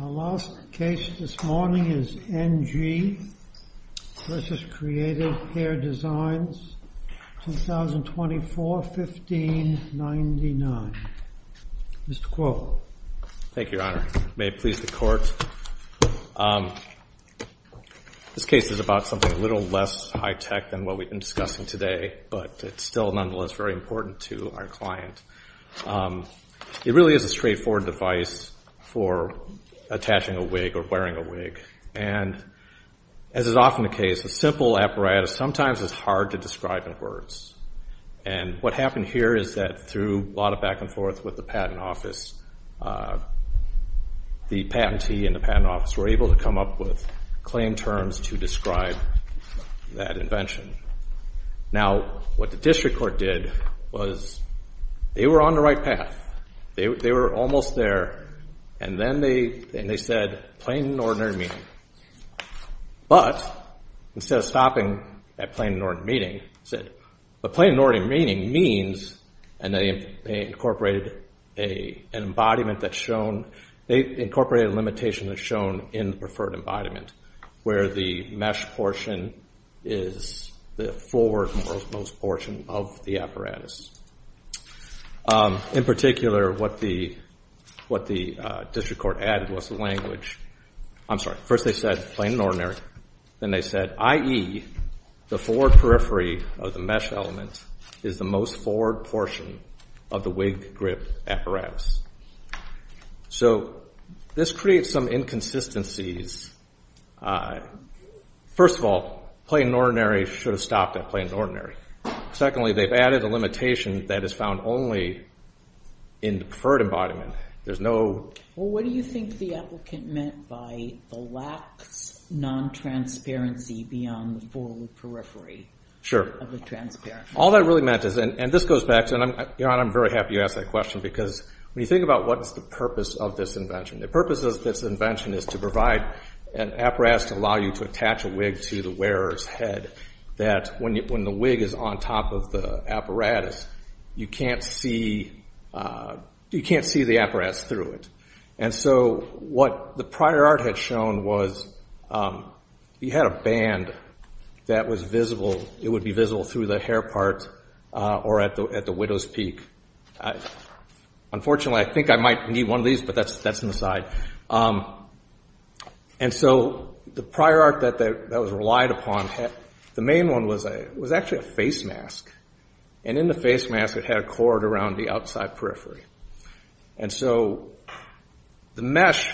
Our last case this morning is NG v. Createdhair Designs, 2024-1599. Mr. Kuo. Thank you, your honor. May it please the court. This case is about something a little less high-tech than what we've been discussing today, but it's still nonetheless very important to our client. It really is a straightforward device for attaching a wig or wearing a wig. And as is often the case, a simple apparatus sometimes is hard to describe in words. And what happened here is that through a lot of back and forth with the patent office, the patentee and the patent office were able to come up with claim terms to describe that invention. Now, what the district court did was they were on the right path. They were almost there, and then they said, plain and ordinary meaning. But instead of stopping at plain and ordinary meaning, they said, but plain and ordinary meaning means, and they incorporated an embodiment that's shown, they incorporated a limitation that's shown in the preferred embodiment where the mesh portion is the forward most portion of the apparatus. In particular, what the district court added was the language. I'm sorry. First, they said, plain and ordinary. Then they said, i.e., the forward periphery of the mesh element is the most forward portion of the wig grip apparatus. So this creates some inconsistencies. First of all, plain and ordinary should have stopped at plain and ordinary. Secondly, they've added a limitation that is found only in the preferred embodiment. There's no... Well, what do you think the applicant meant by the lack of non-transparency beyond the forward periphery of the transparent? Sure. All that really meant is, and this goes back to, and I'm very happy you asked that question, because when you think about what's the purpose of this invention, the purpose of this invention is to provide an apparatus to allow you to attach a wig to the wearer's head that when the wig is on top of the apparatus, you can't see the apparatus through it. And so what the prior art had shown was you had a band that was visible. It would be visible through the hair part or at the widow's peak. Unfortunately, I think I might need one of these, but that's an aside. And so the prior art that was relied upon, the main one was actually a face mask. And in the face mask, it had a cord around the outside periphery. And so the mesh,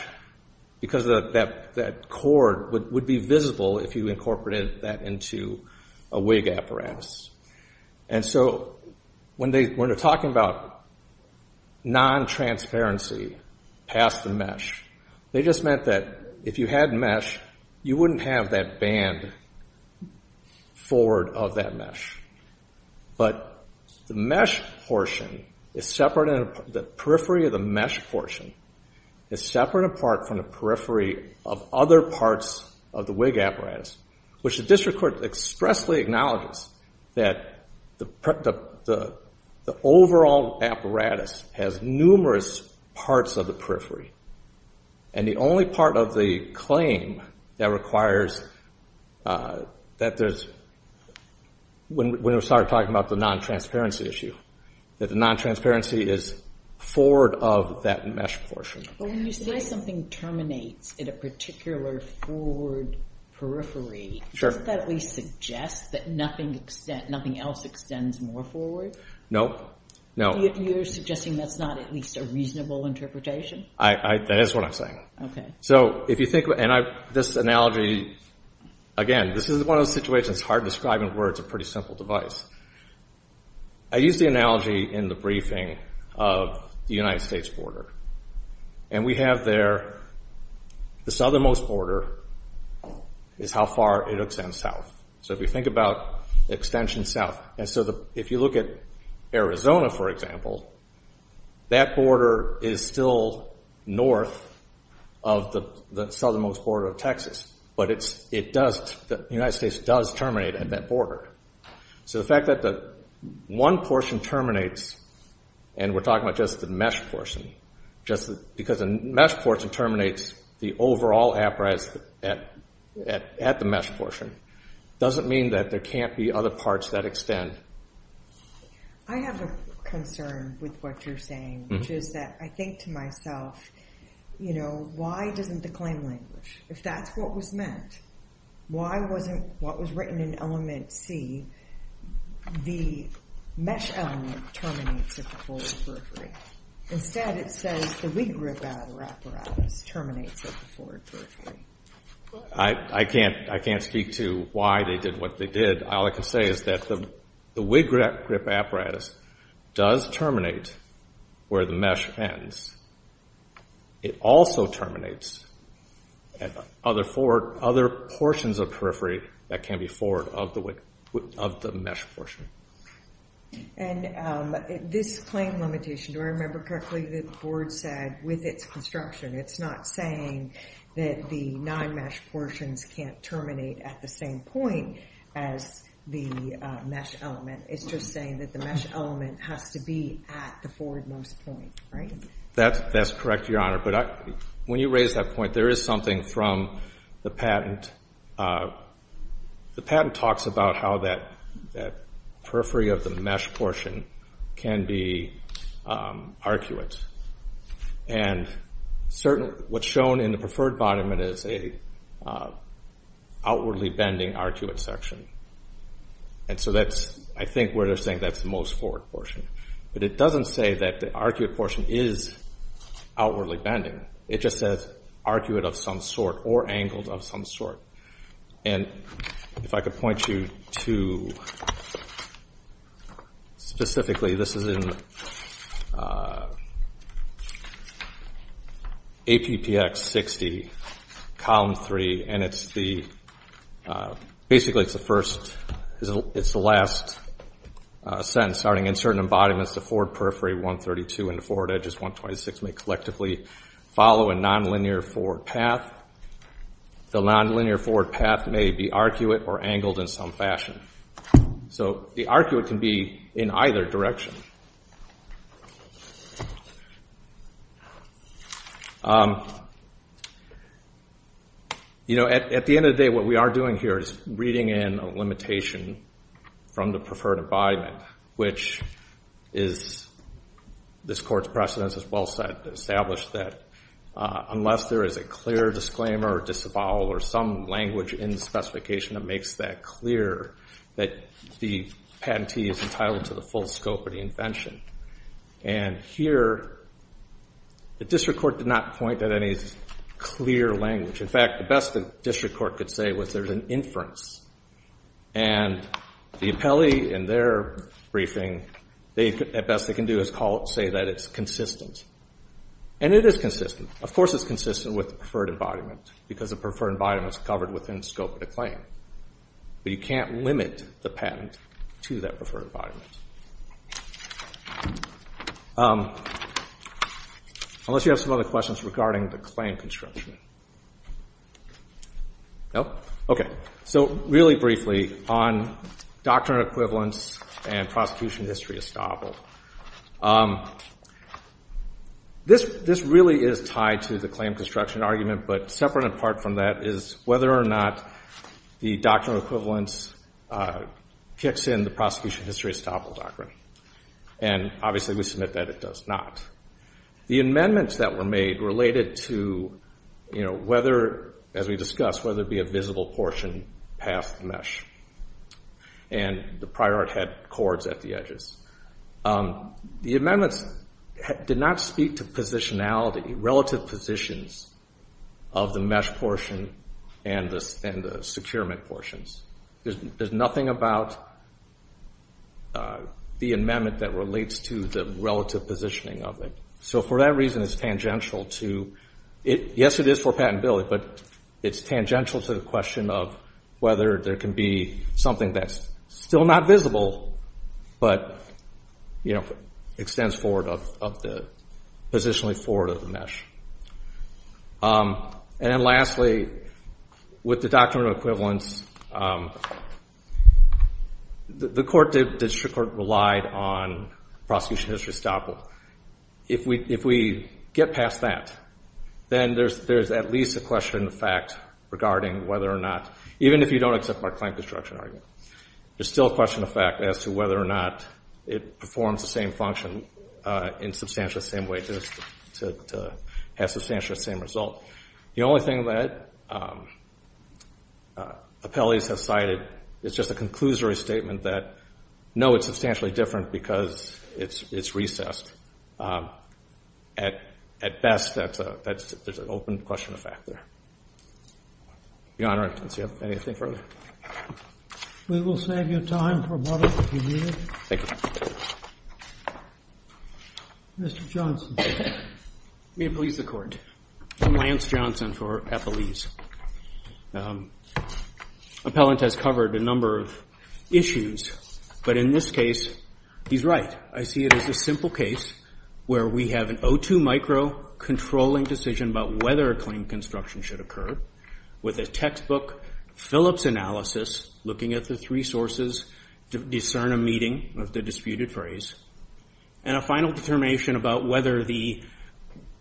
because of that cord, would be visible if you incorporated that into a wig apparatus. And so when they were talking about non-transparency past the mesh, they just meant that if you had mesh, you wouldn't have that band forward of that mesh. But the mesh portion is separate, the periphery of the mesh portion is separate apart from the other parts of the wig apparatus, which the district court expressly acknowledges that the overall apparatus has numerous parts of the periphery. And the only part of the claim that requires that there's, when we started talking about the non-transparency issue, that the non-transparency is forward of that mesh portion. But when you say something terminates at a particular forward periphery, does that at least suggest that nothing else extends more forward? No, no. You're suggesting that's not at least a reasonable interpretation? That is what I'm saying. So if you think, and this analogy, again, this is one of those situations, hard to describe in words, a pretty simple device. I used the analogy in the briefing of the United States border. And we have there, the southernmost border is how far it extends south. So if you think about extension south, and so if you look at Arizona, for example, that border is still north of the southernmost border of Texas. But it does, the United States does terminate at that border. So the fact that the one portion terminates, and we're talking about just the mesh portion, because the mesh portion terminates the overall apparatus at the mesh portion, doesn't mean that there can't be other parts that extend. I have a concern with what you're saying, which is that I think to myself, you know, why doesn't the claim language, if that's what was meant, why wasn't what was written in element C, the mesh element terminates at the forward periphery? Instead, it says the wig grip apparatus terminates at the forward periphery. I can't speak to why they did what they did. All I can say is that the wig grip apparatus does terminate where the mesh ends. It also terminates at other portions of periphery that can be forward of the mesh portion. And this claim limitation, do I remember correctly, the board said with its construction, it's not saying that the nine mesh portions can't terminate at the same point as the mesh element. It's just saying that the mesh element has to be at the forward most point, right? That's correct, Your Honor. But when you raise that point, there is something from the patent. The patent talks about how that periphery of the mesh portion can be arcuate. And what's shown in the preferred bottom is an outwardly bending arcuate section. And so that's, I think, where they're saying that's the most forward portion. But it doesn't say that the arcuate portion is outwardly bending. It just says arcuate of some sort or angled of some sort. And if I could point you to, specifically, this is in APPX 60, column 3, and it's the, basically, it's the first, it's the last sentence. Starting, insert an embodiment as the forward periphery 132 and the forward edges 126 may collectively follow a nonlinear forward path. The nonlinear forward path may be arcuate or angled in some fashion. So the arcuate can be in either direction. You know, at the end of the day, what we are doing here is reading in a limitation from the preferred embodiment, which is, this Court's precedence is well established that unless there is a clear disclaimer or disavowal or some language in the specification that makes that clear, that the patentee is entitled to the full scope of the invention. And here, the District Court did not point at any clear language. In fact, the best the District Court could say was there's an inference. And the appellee, in their briefing, they, at best, they can do is call it, say that it's consistent. And it is consistent. Of course, it's consistent with the preferred embodiment because the preferred embodiment is covered within the scope of the claim. But you can't limit the patent to that preferred embodiment. Unless you have some other questions regarding the claim construction. No? Okay. So really briefly on doctrine of equivalence and prosecution history estoppel. This really is tied to the claim construction argument. But separate and apart from that is whether or not the doctrine of equivalence kicks in the prosecution history estoppel doctrine. And obviously, we submit that it does not. The amendments that were made related to, you know, whether, as we discussed, whether it be a visible portion past the mesh. And the prior art had cords at the edges. The amendments did not speak to positionality, relative positions of the mesh portion and the securement portions. There's nothing about the amendment that relates to the relative positioning of it. So for that reason, it's tangential to, yes, it is for patentability, but it's tangential to the question of whether there can be something that's still not visible, but, you know, extends forward of the, positionally forward of the mesh. And then lastly, with the doctrine of equivalence, the court, the district court relied on prosecution history estoppel. If we get past that, then there's at least a question of fact regarding whether or not, even if you don't accept our claim construction argument, there's still a question of fact as to whether or not it performs the same function in substantial, same way to the has substantial, same result. The only thing that appellees have cited is just a conclusory statement that, no, it's substantially different because it's recessed. At best, there's an open question of fact there. Your Honor, I don't see anything further. We will save you time for a moment if you need it. Thank you. Mr. Johnson. May it please the court. I'm Lance Johnson for appellees. Appellant has covered a number of issues, but in this case, he's right. I see it as a simple case where we have an O2 micro controlling decision about whether a claim construction should occur with a textbook Phillips analysis, looking at the three sources to discern a meeting of the disputed phrase, and a final determination about whether the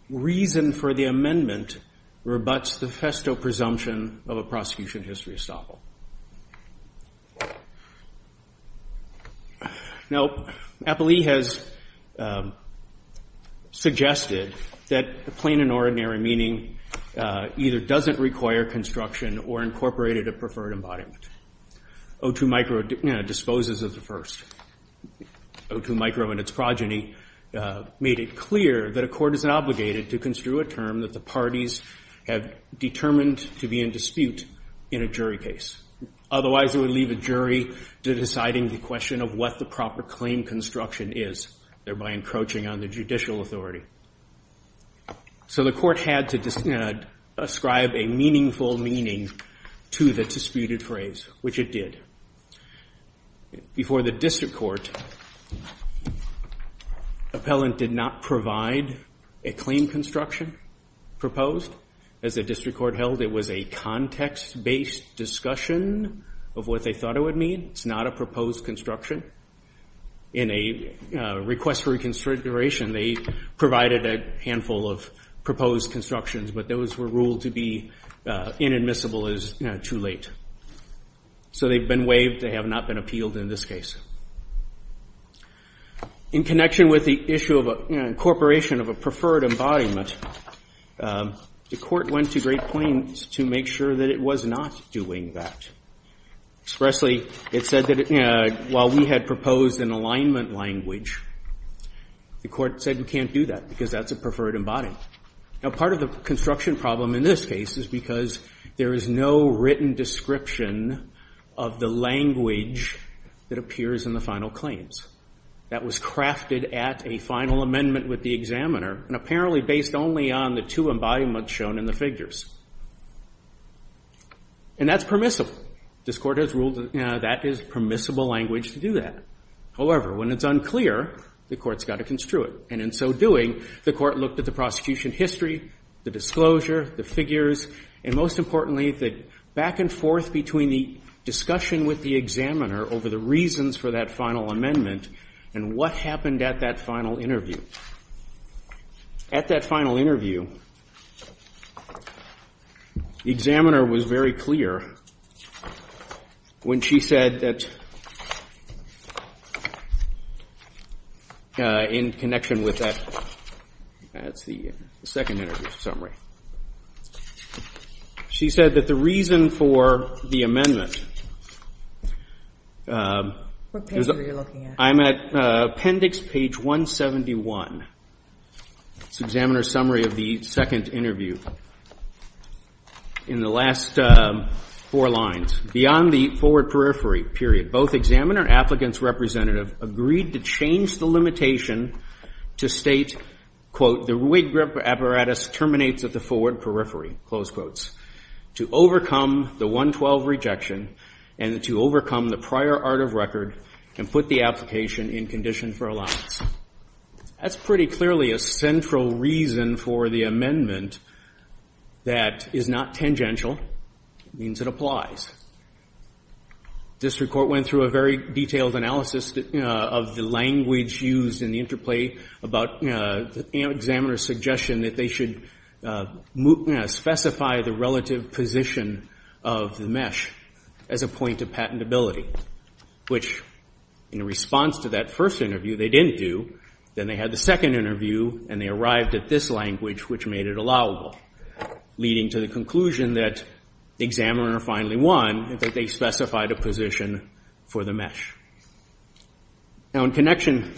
reason for the amendment rebuts the festo presumption of a prosecution history estoppel. Now, appellee has suggested that the plain and ordinary meaning either doesn't require construction or incorporated a preferred embodiment. O2 micro disposes of the first. O2 micro and its progeny made it clear that a court is obligated to construe a term that the parties have determined to be in dispute in a jury case. Otherwise, it would leave a jury to deciding the question of what the proper claim construction is, thereby encroaching on the judicial authority. So the court had to describe a meaningful meaning to the disputed phrase, which it did. Before the district court, appellant did not provide a claim construction proposed. As the district court held, it was a context-based discussion of what they thought it would mean. It's not a proposed construction. In a request for reconsideration, they provided a handful of proposed constructions, but those were ruled to be inadmissible as too late. So they've been waived. They have not been appealed in this case. In connection with the issue of incorporation of a preferred embodiment, the court went to great pains to make sure that it was not doing that. Expressly, it said that while we had proposed an alignment language, the court said we can't do that because that's a preferred embodiment. Now, part of the construction problem in this case is because there is no written description of the language that appears in the final claims. That was crafted at a final amendment with the examiner, and apparently based only on the two embodiments shown in the figures. And that's permissible. This court has ruled that that is permissible language to do that. However, when it's unclear, the court's got to construe it. And in so doing, the court looked at the prosecution history, the disclosure, the figures, and most importantly, the back and forth between the discussion with the examiner over the reasons for that final amendment and what happened at that final interview. At that final interview, the examiner was very clear when she said that in connection with that, that's the second interview summary, she said that the reason for the amendment... What page are you looking at? I'm at appendix page 171. It's the examiner's summary of the second interview in the last four lines. Beyond the forward periphery period, both examiner and applicant's representative agreed to change the limitation to state, quote, the rig apparatus terminates at the forward periphery, close quotes, to overcome the 112 rejection and to overcome the prior art of record and put the application in condition for allowance. That's pretty clearly a central reason for the amendment that is not tangential. It means it applies. District Court went through a very detailed analysis of the language used in the interplay about the examiner's suggestion that they should specify the relative position of the MeSH as a point of patentability, which in response to that first interview, they didn't do. Then they had the second interview and they arrived at this language, which made it allowable, leading to the conclusion that the examiner finally won and that they specified a position for the MeSH. Now, in connection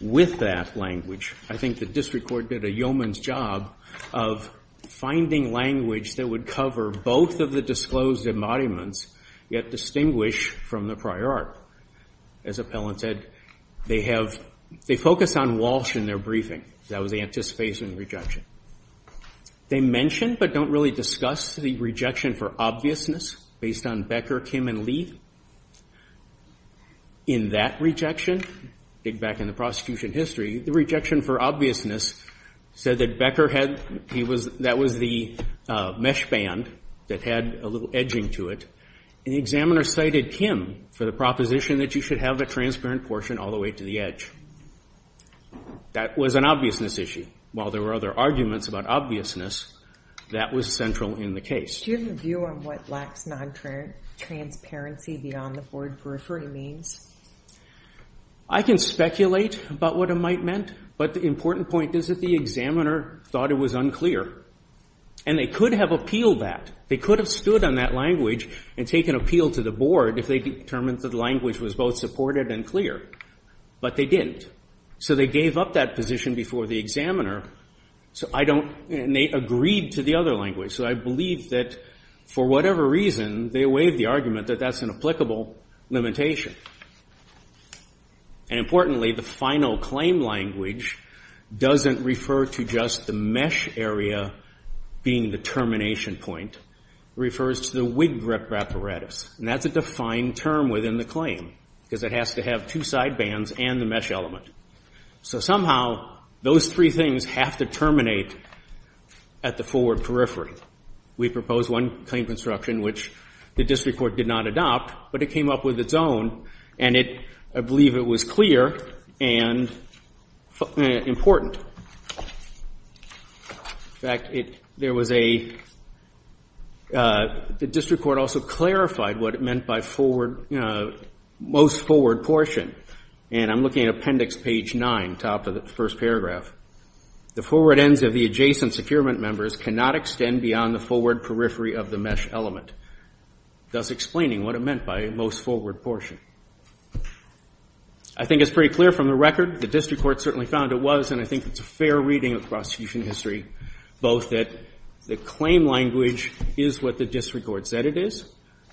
with that language, I think the District Court did a yeoman's job of finding language that would cover both of the disclosed embodiments, yet distinguish from the prior art. As Appellant said, they have, they focus on Walsh in their briefing. That was the anticipation rejection. They mentioned but don't really discuss the rejection for obviousness based on Becker, Kim, and Lee. In that rejection, dig back in the prosecution history, the rejection for obviousness said that Becker had, he was, that was the MeSH band that had a little edging to it, and the examiner cited Kim for the proposition that you should have a transparent portion all the way to the edge. That was an obviousness issue. While there were other arguments about obviousness, that was central in the case. Do you have a view on what lacks non-transparency beyond the board periphery means? I can speculate about what it might meant, but the important point is that the examiner thought it was unclear, and they could have appealed that. They could have stood on that language and taken appeal to the board if they determined that the language was both supported and clear, but they didn't. So, they gave up that position before the examiner, so I don't, and they agreed to the other language, so I believe that for whatever reason, they waived the argument that that's an applicable limitation. And importantly, the final claim language doesn't refer to just the MeSH area being the termination point. It refers to the WIG reparatus, and that's a defined term within the claim, because it has to have two side bands and the MeSH element. So, somehow, those three things have to terminate at the forward periphery. We proposed one claim construction, which the district court did not adopt, but it came up with its own, and I believe it was clear and important. In fact, there was a, the district court also clarified what it meant by most forward portion, and I'm looking at appendix page nine, top of the first paragraph. The forward ends of the adjacent securement members cannot extend beyond the forward periphery of the MeSH element, thus explaining what it meant by most forward portion. I think it's pretty clear from the record. The district court certainly found it was, and I think it's a fair reading of the prosecution history, both that the claim language is what the district court said it is,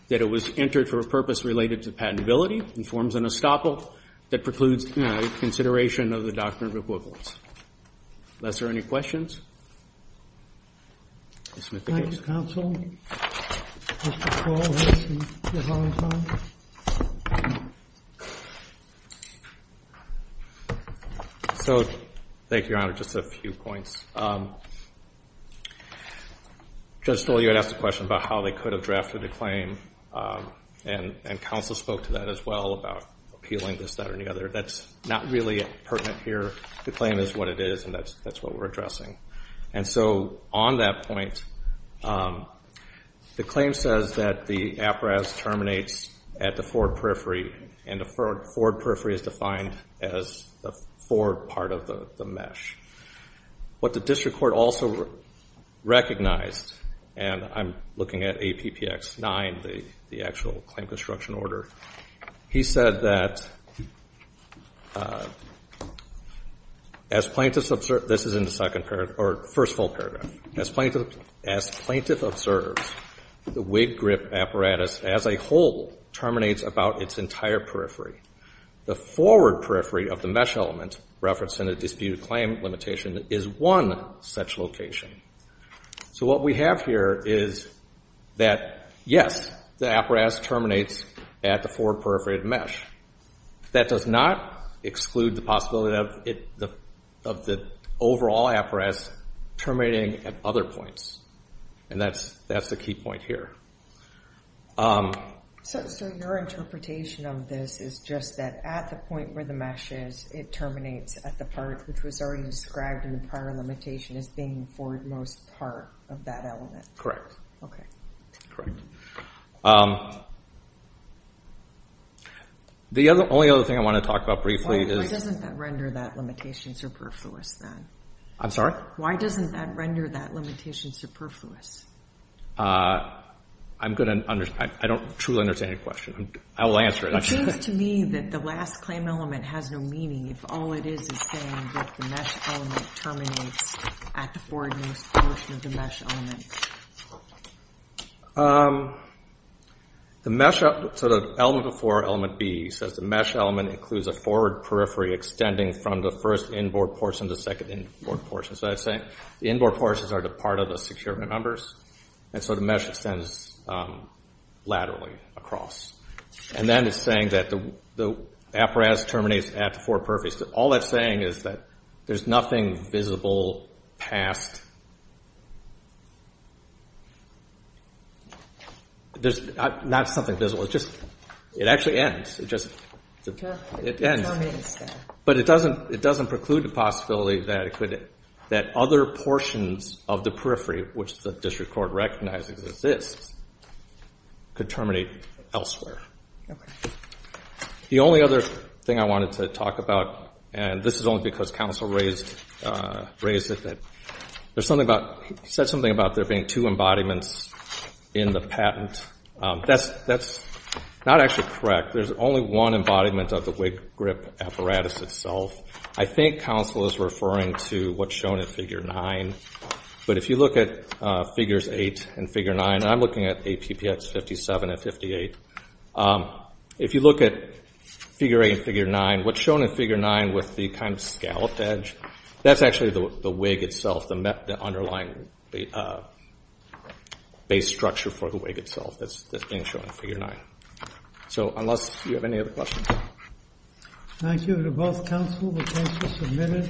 that it was entered for a purpose related to patentability and forms an estoppel that precludes consideration of the doctrine of equivalence. Unless there are any questions? Thank you, counsel. So, thank you, your honor. Just a few points. Judge Stoll, you had asked a question about how they could have drafted a claim, and counsel spoke to that as well about appealing this, that, or any other. That's not really pertinent here. The claim is what it is, and that's what we're addressing. And so, on that point, the claim says that the appraise terminates at the forward periphery, and the forward periphery is defined as the forward part of the MeSH. What the district court also recognized, and I'm looking at APPX 9, the actual claim construction order. He said that, as plaintiffs observe, this is in the second paragraph, or first full paragraph, as plaintiff observes, the wig grip apparatus as a whole terminates about its entire periphery. The forward periphery of the MeSH element, referenced in the disputed claim limitation, is one such location. So what we have here is that, yes, the apparatus terminates at the forward periphery of MeSH. That does not exclude the possibility of the overall apparatus terminating at other points, and that's the key point here. So your interpretation of this is just that at the point where the MeSH is, it terminates at the part which was already described in the prior limitation as being the forward-most part of that element? Okay. Correct. The only other thing I want to talk about briefly is... Why doesn't that render that limitation superfluous, then? I'm sorry? Why doesn't that render that limitation superfluous? I don't truly understand your question. I will answer it. It seems to me that the last claim element has no meaning if all it is is saying that the MeSH element terminates at the forward-most portion of the MeSH element. So the element before element B says the MeSH element includes a forward periphery extending from the first inboard portion to the second inboard portion. The inboard portions are the part of the securement numbers, and so the MeSH extends laterally across. And then it's saying that the apparatus terminates at the four peripheries. All that's saying is that there's nothing visible past... There's not something visible. It actually ends. It terminates there. But it doesn't preclude the possibility that other portions of the periphery, which the district court recognizes exists, could terminate elsewhere. The only other thing I wanted to talk about, and this is only because counsel raised it, that there's something about... He said something about there being two embodiments in the patent. That's not actually correct. There's only one embodiment of the wig grip apparatus itself. I think counsel is referring to what's shown in figure 9, but if you look at figures 8 and figure 9, and I'm looking at APPX 57 and 58, if you look at figure 8 and figure 9, what's shown in figure 9 with the kind of scalloped edge, that's actually the wig itself, the underlying base structure for the wig itself that's being shown in figure 9. So unless you have any other questions.